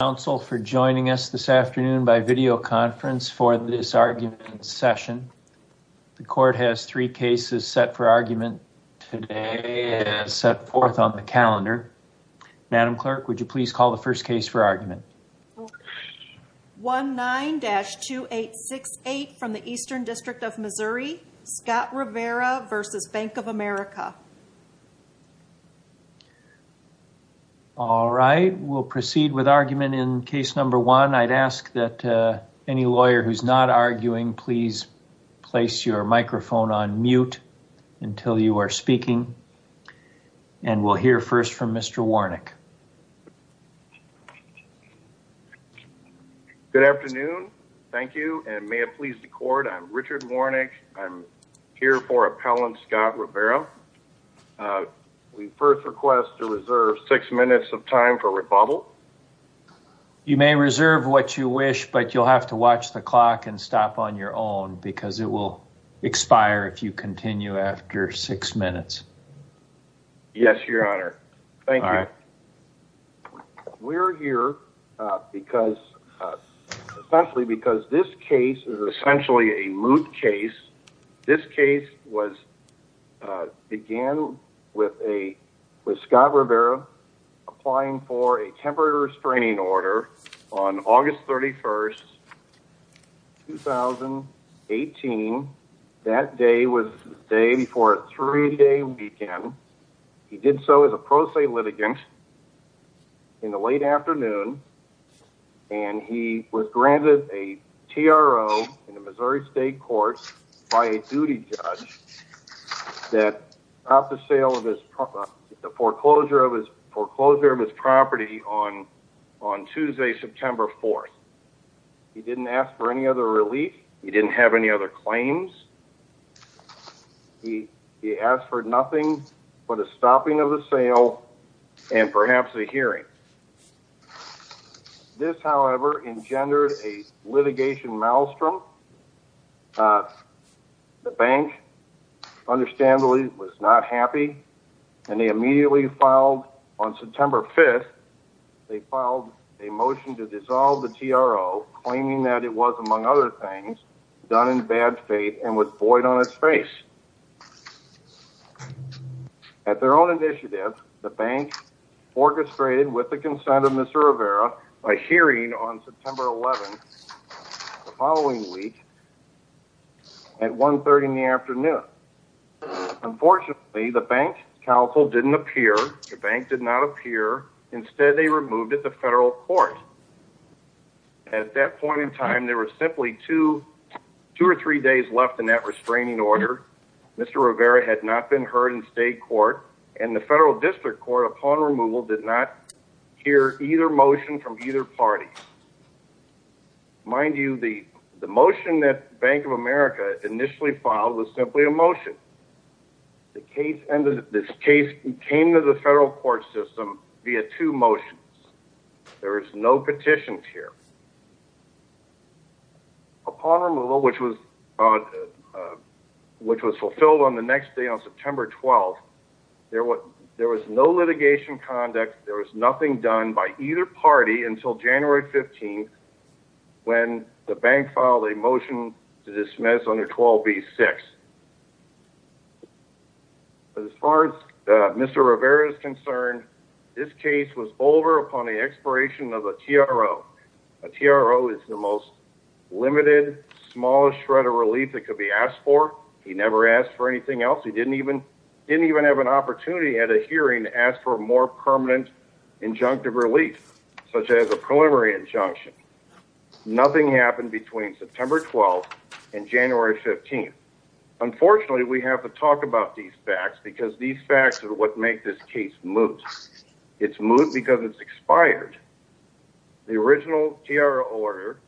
Thank you, counsel, for joining us this afternoon by videoconference for this argument session. The court has three cases set for argument today and has set forth on the calendar. Madam Clerk, would you please call the first case for argument? 49-2868 from the Eastern District of Missouri, Scott Rivera v. Bank of America. All right. We'll proceed with argument in case number one. I'd ask that any lawyer who's not arguing, please place your microphone on mute until you are speaking. And we'll hear first from Mr. Warnick. Good afternoon. Thank you. And may it please the court, I'm Richard Warnick. I'm here for appellant Scott Rivera. We first request to reserve six minutes of time for rebuttal. You may reserve what you wish, but you'll have to watch the clock and stop on your own because it will expire if you continue after six minutes. Yes, Your Honor. Thank you. We're here essentially because this case is essentially a moot case. This case began with Scott Rivera applying for a temporary restraining order on August 31st, 2018. That day was the day before a three-day weekend. He did so as a pro se litigant in the late afternoon. And he was granted a TRO in the Missouri State Court by a duty judge that stopped the foreclosure of his property on Tuesday, September 4th. He didn't ask for any other relief. He didn't have any other claims. He asked for nothing but a stopping of the sale and perhaps a hearing. This, however, engendered a litigation maelstrom. The bank, understandably, was not happy. On September 5th, they filed a motion to dissolve the TRO, claiming that it was, among other things, done in bad faith and was void on its face. At their own initiative, the bank orchestrated, with the consent of Mr. Rivera, a hearing on September 11th, the following week, at 1.30 in the afternoon. Unfortunately, the bank counsel didn't appear. The bank did not appear. Instead, they removed it to federal court. At that point in time, there were simply two or three days left in that restraining order. Mr. Rivera had not been heard in state court. And the federal district court, upon removal, did not hear either motion from either party. Mind you, the motion that Bank of America initially filed was simply a motion. This case came to the federal court system via two motions. There is no petitions here. Upon removal, which was fulfilled on the next day, on September 12th, there was no litigation conduct. There was nothing done by either party until January 15th, when the bank filed a motion to dismiss under 12B-6. As far as Mr. Rivera is concerned, this case was over upon the expiration of a TRO. A TRO is the most limited, smallest shred of relief that could be asked for. He never asked for anything else. He didn't even have an opportunity at a hearing to ask for a more permanent injunctive relief, such as a preliminary injunction. Nothing happened between September 12th and January 15th. Unfortunately, we have to talk about these facts because these facts are what make this case moot. It's moot because it's expired. The original TRO order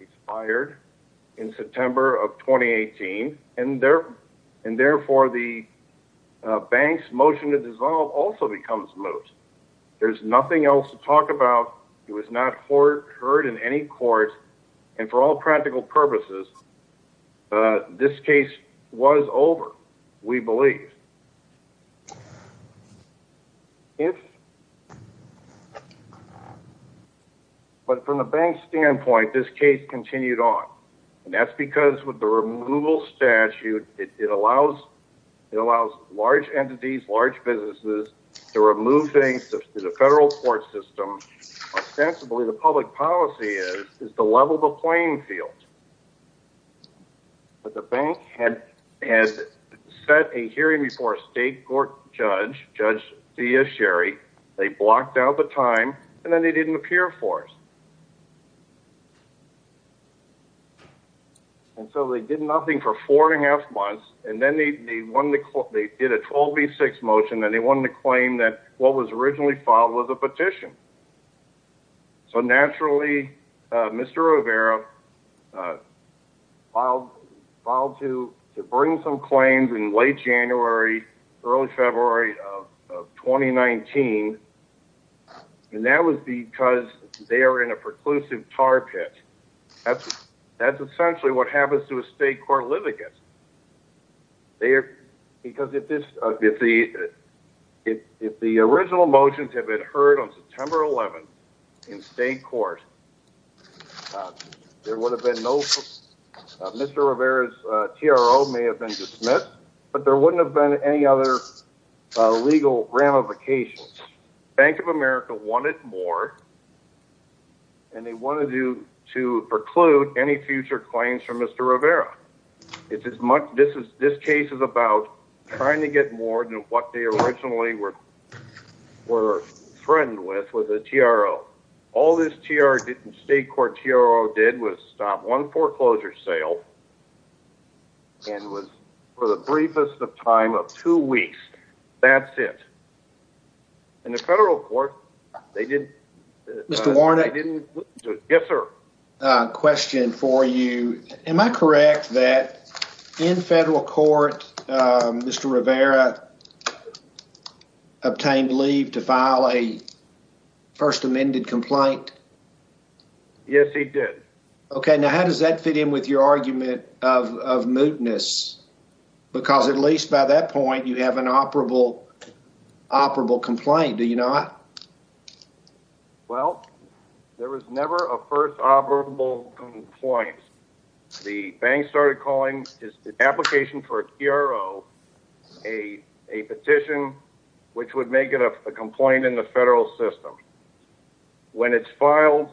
expired in September of 2018, and therefore the bank's motion to dissolve also becomes moot. There's nothing else to talk about. It was not heard in any court, and for all practical purposes, this case was over, we believe. But from the bank's standpoint, this case continued on. And that's because with the removal statute, it allows large entities, large businesses to remove things to the federal court system. Ostensibly, the public policy is to level the playing field. But the bank had set a hearing before a state court judge, Judge Dia Sherry. They blocked out the time, and then they didn't appear for it. And so they did nothing for four and a half months, and then they did a 12B6 motion, and they wanted to claim that what was originally filed was a petition. So naturally, Mr. Rivera filed to bring some claims in late January, early February of 2019, and that was because they are in a preclusive tar pit. That's essentially what happens to a state court litigant. Because if the original motions had been heard on September 11th in state court, Mr. Rivera's TRO may have been dismissed, but there wouldn't have been any other legal ramifications. Bank of America wanted more, and they wanted to preclude any future claims from Mr. Rivera. This case is about trying to get more than what they originally were threatened with, with a TRO. All this state court TRO did was stop one foreclosure sale, and was for the briefest of time of two weeks. That's it. And the federal court, they didn't... Mr. Warner? Yes, sir. I have another question for you. Am I correct that in federal court, Mr. Rivera obtained leave to file a first amended complaint? Yes, he did. Okay, now how does that fit in with your argument of mootness? Because at least by that point, you have an operable complaint, do you not? Well, there was never a first operable complaint. The bank started calling his application for a TRO a petition which would make it a complaint in the federal system. When it's filed,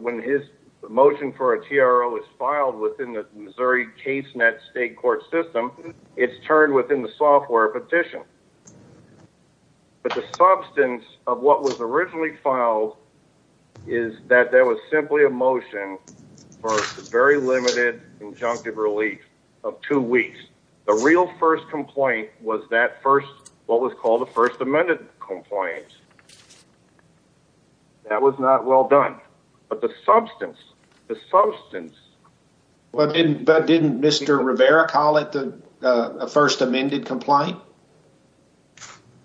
when his motion for a TRO is filed within the Missouri case net state court system, it's turned within the software petition. But the substance of what was originally filed is that there was simply a motion for a very limited injunctive relief of two weeks. The real first complaint was that first, what was called a first amended complaint. That was not well done. But the substance, the substance... But didn't Mr. Rivera call it a first amended complaint?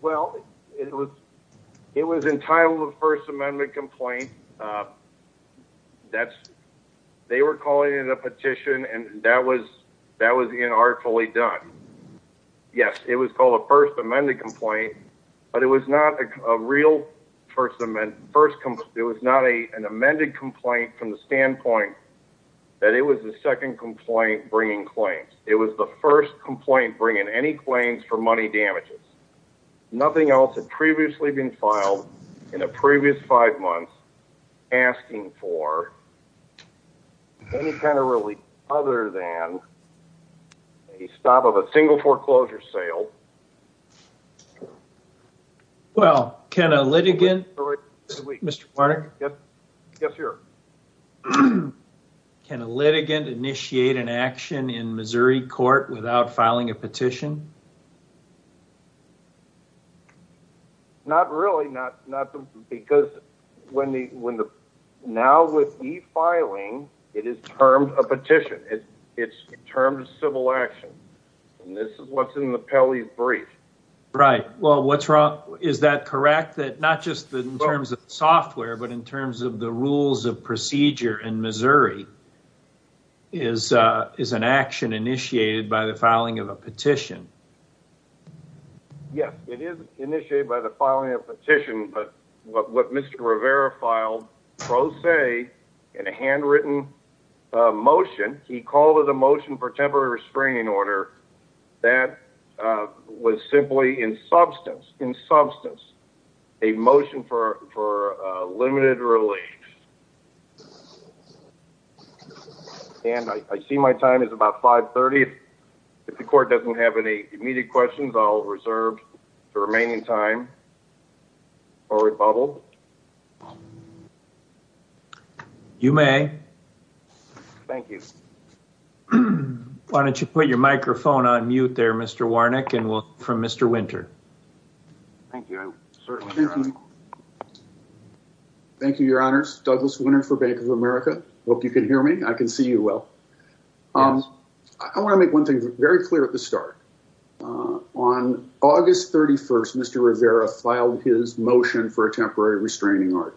Well, it was entitled a first amended complaint. They were calling it a petition and that was inartfully done. Yes, it was called a first amended complaint, but it was not a real first amended complaint. It was not an amended complaint from the standpoint that it was the second complaint bringing claims. It was the first complaint bringing any claims for money damages. Nothing else had previously been filed in the previous five months asking for any kind of relief other than a stop of a single foreclosure sale. Well, can a litigant initiate an action in Missouri court without filing a petition? Not really, because now with e-filing, it is termed a petition. It's termed a civil action. And this is what's in the Pelley brief. Right. Well, what's wrong? Is that correct? The fact that not just in terms of software, but in terms of the rules of procedure in Missouri is an action initiated by the filing of a petition. Yes, it is initiated by the filing of a petition, but what Mr. Rivera filed pro se in a handwritten motion, he called it a motion for temporary restraining order. That was simply in substance, in substance, a motion for limited relief. And I see my time is about 530. If the court doesn't have any immediate questions, I'll reserve the remaining time for rebuttal. You may. Thank you. Why don't you put your microphone on mute there, Mr. Warnick, and we'll hear from Mr. Winter. Thank you. Thank you, Your Honors. Douglas Winter for Bank of America. Hope you can hear me. I can see you well. I want to make one thing very clear at the start. On August 31st, Mr. Rivera filed his motion for a temporary restraining order.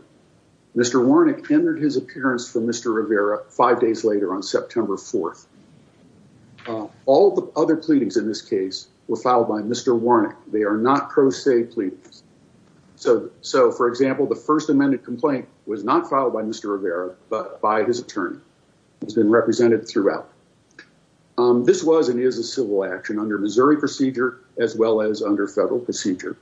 Mr. Warnick entered his appearance for Mr. Rivera five days later on September 4th. All the other pleadings in this case were filed by Mr. Warnick. They are not pro se pleadings. So, for example, the first amended complaint was not filed by Mr. Rivera, but by his attorney. It's been represented throughout. This was and is a civil action under Missouri procedure as well as under federal procedure.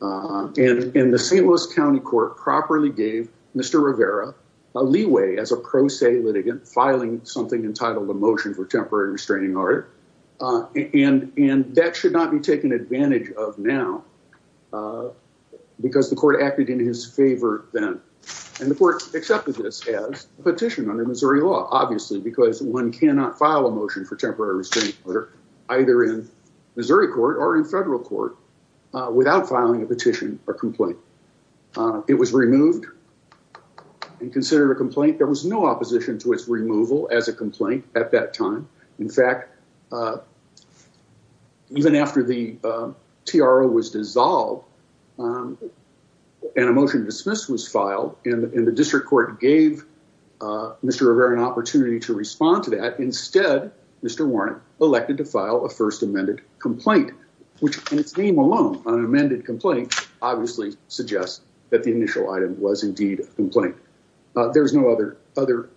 And the St. Louis County Court properly gave Mr. Rivera a leeway as a pro se litigant filing something entitled a motion for temporary restraining order. And that should not be taken advantage of now because the court acted in his favor then. And the court accepted this as a petition under Missouri law, obviously, because one cannot file a motion for temporary restraining order either in Missouri court or in federal court without filing a petition or complaint. It was removed and considered a complaint. There was no opposition to its removal as a complaint at that time. In fact, even after the TRO was dissolved and a motion to dismiss was filed and the district court gave Mr. Rivera an opportunity to respond to that. Instead, Mr. Warnick elected to file a first amended complaint, which in its name alone, an amended complaint obviously suggests that the initial item was indeed a complaint. There's no other other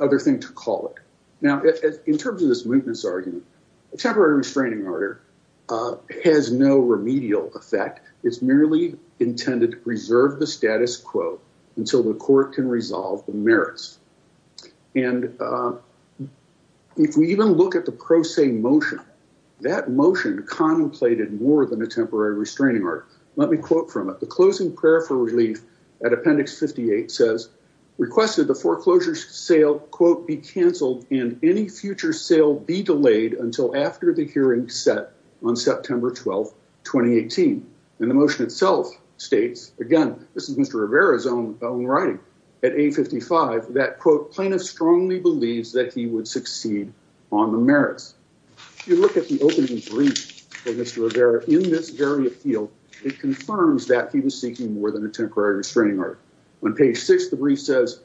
other thing to call it. Now, in terms of this mootness argument, a temporary restraining order has no remedial effect. It's merely intended to preserve the status quo until the court can resolve the merits. And if we even look at the pro se motion, that motion contemplated more than a temporary restraining order. Let me quote from it. The closing prayer for relief at Appendix 58 says requested the foreclosure sale, quote, be canceled and any future sale be delayed until after the hearing set on September 12th, 2018. And the motion itself states, again, this is Mr. Rivera's own writing at 855 that quote plaintiff strongly believes that he would succeed on the merits. You look at the opening brief for Mr. Rivera in this very field, it confirms that he was seeking more than a temporary restraining order. On page six, the brief says,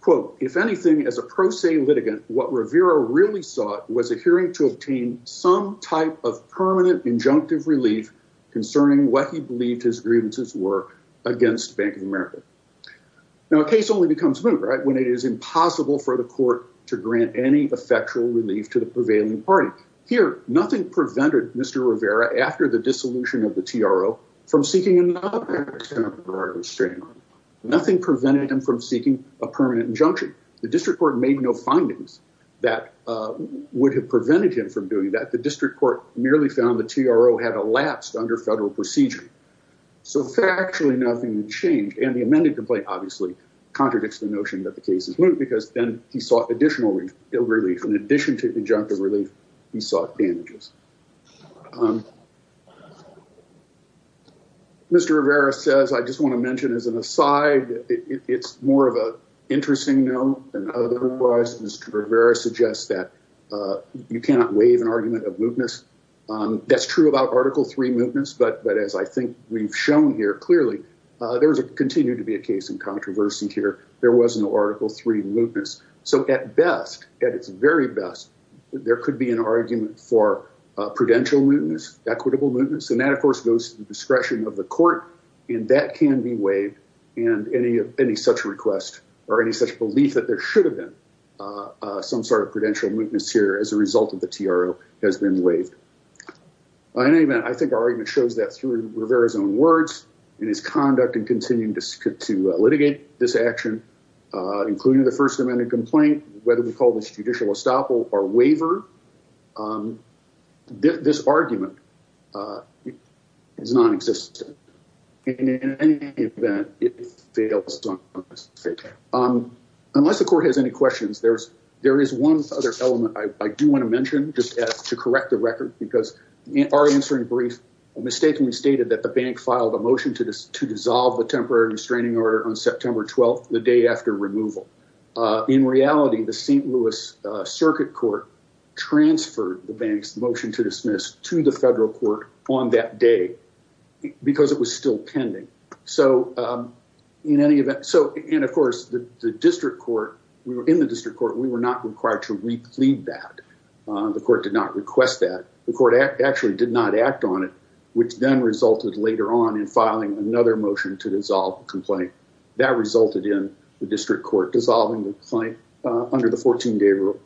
quote, if anything, as a pro se litigant, what Rivera really sought was a hearing to obtain some type of permanent injunctive relief concerning what he believed his grievances were against Bank of America. Now, a case only becomes moot when it is impossible for the court to grant any effectual relief to the prevailing party. Here, nothing prevented Mr. Rivera after the dissolution of the TRO from seeking another temporary restraining order. Nothing prevented him from seeking a permanent injunction. The district court made no findings that would have prevented him from doing that. The district court merely found the TRO had elapsed under federal procedure. So factually, nothing changed. And the amended complaint obviously contradicts the notion that the case is moot because then he sought additional relief. In addition to injunctive relief, he sought damages. Mr. Rivera says, I just want to mention as an aside, it's more of an interesting note than otherwise. Mr. Rivera suggests that you cannot waive an argument of mootness. That's true about Article 3 mootness. But as I think we've shown here clearly, there's a continued to be a case in controversy here. There was no Article 3 mootness. So at best, at its very best, there could be an argument for prudential mootness, equitable mootness. And that, of course, goes to the discretion of the court. And that can be waived. And any of any such request or any such belief that there should have been some sort of prudential mootness here as a result of the TRO has been waived. In any event, I think our argument shows that through Rivera's own words and his conduct and continuing to litigate this action, including the First Amendment complaint, whether we call this judicial estoppel or waiver. This argument is non-existent. In any event, it fails. Unless the court has any questions, there's there is one other element I do want to mention just to correct the record, because our answering brief mistakenly stated that the bank filed a motion to dissolve the temporary restraining order on September 12th, the day after removal. In reality, the St. Louis Circuit Court transferred the bank's motion to dismiss to the federal court on that day because it was still pending. So in any event, so and of course, the district court in the district court, we were not required to reclaim that the court did not request that the court actually did not act on it, which then resulted later on in filing another motion to dissolve the complaint that resulted in the district court dissolving the claim under the 14 day rule.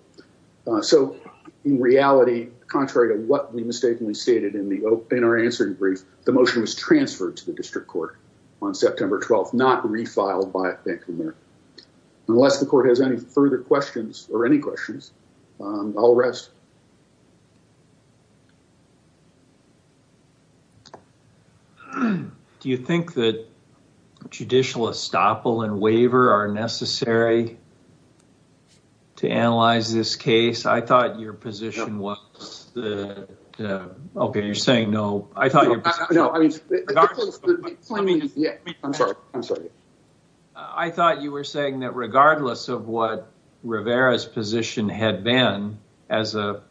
So in reality, contrary to what we mistakenly stated in our answering brief, the motion was transferred to the district court on September 12th, not refiled by Bank of America. Unless the court has any further questions or any questions, I'll rest. Do you think that judicial estoppel and waiver are necessary to analyze this case? I thought your position was the okay, you're saying no. I thought you were saying that regardless of what Rivera's position had been as a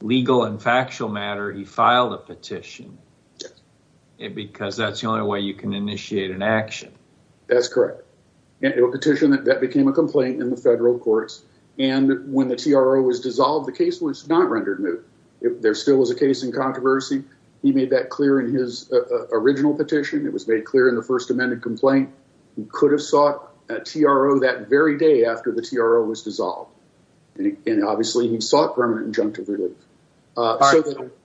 legal and factual matter, he filed a petition because that's the only way you can initiate an action. That's correct. It was a petition that became a complaint in the federal courts. And when the TRO was dissolved, the case was not rendered new. There still was a case in controversy. He made that clear in his original petition. It was made clear in the first amended complaint. He could have sought a TRO that very day after the TRO was dissolved. And obviously he sought permanent injunctive relief.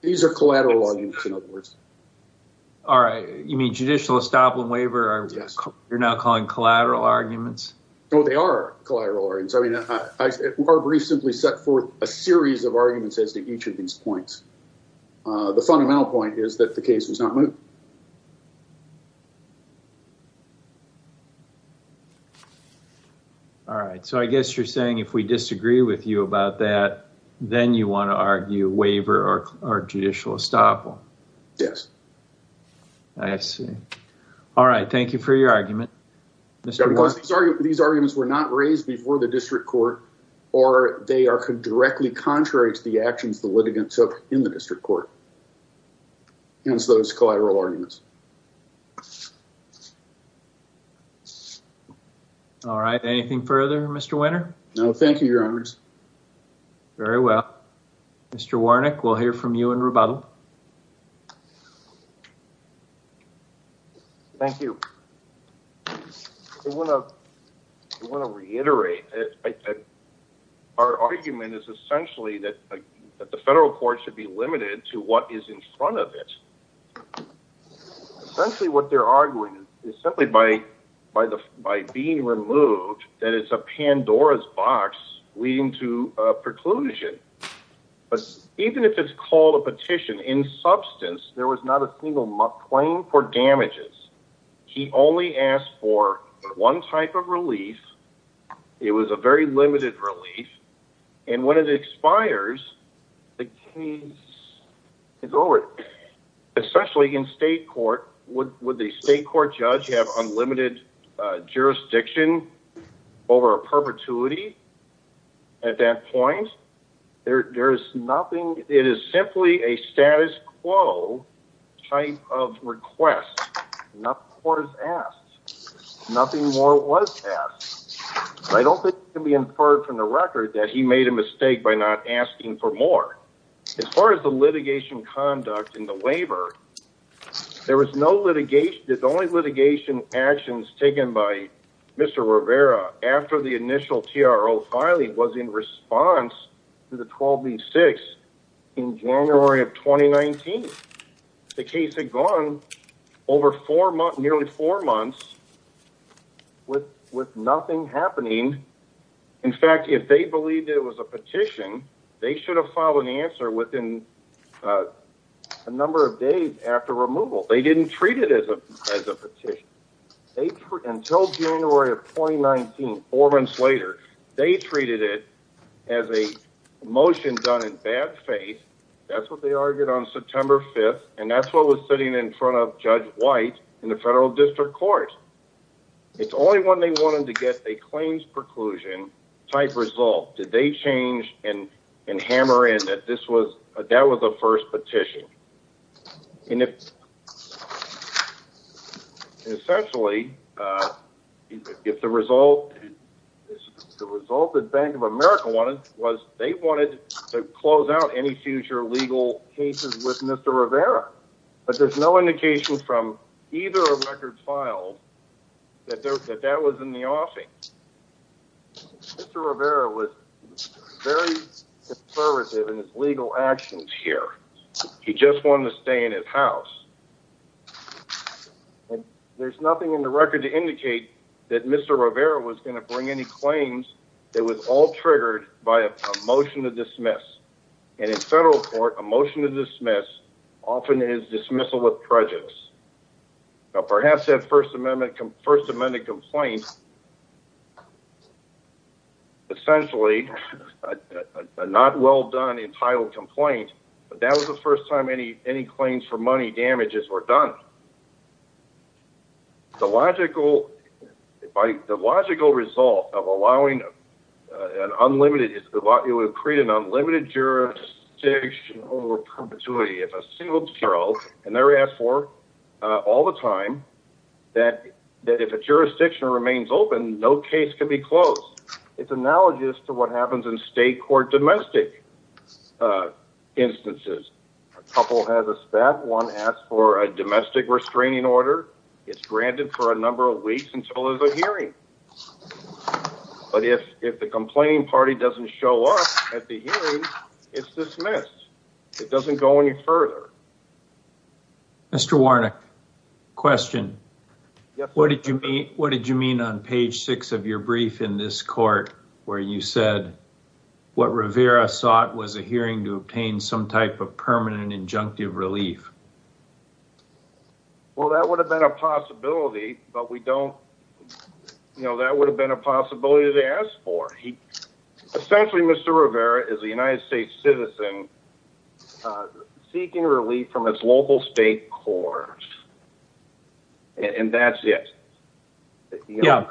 These are collateral arguments, in other words. All right. You mean judicial estoppel and waiver, you're now calling collateral arguments? No, they are collateral arguments. I mean, our brief simply set forth a series of arguments as to each of these points. The fundamental point is that the case was not moved. All right. So I guess you're saying if we disagree with you about that, then you want to argue waiver or judicial estoppel? Yes. I see. All right. Thank you for your argument. These arguments were not raised before the district court, or they are directly contrary to the actions the litigants took in the district court. Hence those collateral arguments. All right. Anything further, Mr. Winter? No, thank you, Your Honors. Very well. Mr. Warnick, we'll hear from you in rebuttal. Thank you. I want to reiterate that our argument is essentially that the federal court should be limited to what is in front of it. Essentially what they're arguing is simply by being removed that it's a Pandora's box leading to a preclusion. But even if it's called a petition, in substance, there was not a single claim for damages. He only asked for one type of relief. It was a very limited relief. And when it expires, the case is over, especially in state court. Would the state court judge have unlimited jurisdiction over a perpetuity at that point? There is nothing. It is simply a status quo type of request. Nothing more was asked. I don't think it can be inferred from the record that he made a mistake by not asking for more. As far as the litigation conduct in the waiver, there was no litigation. The only litigation actions taken by Mr. Rivera after the initial TRO filing was in response to the 12-B-6 in January of 2019. The case had gone over nearly four months with nothing happening. In fact, if they believed it was a petition, they should have filed an answer within a number of days after removal. They didn't treat it as a petition. Until January of 2019, four months later, they treated it as a motion done in bad faith. That's what they argued on September 5th, and that's what was sitting in front of Judge White in the federal district court. It's only when they wanted to get a claims preclusion type result did they change and hammer in that that was the first petition. Essentially, the result that Bank of America wanted was they wanted to close out any future legal cases with Mr. Rivera. But there's no indication from either of the records filed that that was in the offing. Mr. Rivera was very conservative in his legal actions here. He just wanted to stay in his house. There's nothing in the record to indicate that Mr. Rivera was going to bring any claims that was all triggered by a motion to dismiss. And in federal court, a motion to dismiss often is dismissal with prejudice. Now, perhaps that First Amendment complaint, essentially, a not well done entitled complaint, but that was the first time any claims for money damages were done. The logical result of allowing an unlimited, it would create an unlimited jurisdiction over perpetuity. If a single parole, and they're asked for all the time, that if a jurisdiction remains open, no case can be closed. It's analogous to what happens in state court domestic instances. A couple has a spat, one asks for a domestic restraining order. It's granted for a number of weeks until there's a hearing. But if the complaining party doesn't show up at the hearing, it's dismissed. It doesn't go any further. Mr. Warnick question. What did you mean? What did you mean on page six of your brief in this court where you said what Rivera sought was a hearing to obtain some type of permanent injunctive relief? Well, that would have been a possibility, but we don't know. That would have been a possibility to ask for. Essentially, Mr. Rivera is a United States citizen seeking relief from his local state court. And that's it. The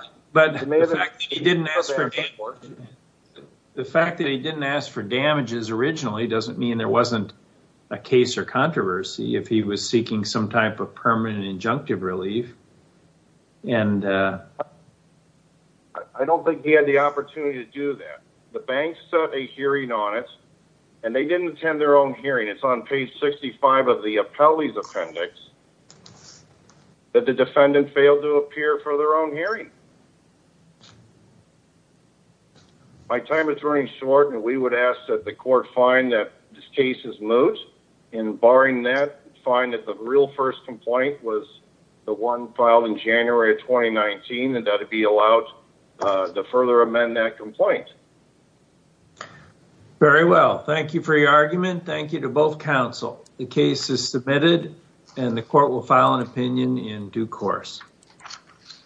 fact that he didn't ask for damages originally doesn't mean there wasn't a case or controversy if he was seeking some type of permanent injunctive relief. And I don't think he had the opportunity to do that. The bank set a hearing on it and they didn't attend their own hearing. It's on page 65 of the appellee's appendix that the defendant failed to appear for their own hearing. My time is running short, and we would ask that the court find that this case is moot. And barring that, find that the real first complaint was the one filed in January of 2019 and that it be allowed to further amend that complaint. Very well. Thank you for your argument. Thank you to both counsel. The case is submitted and the court will file an opinion in due course.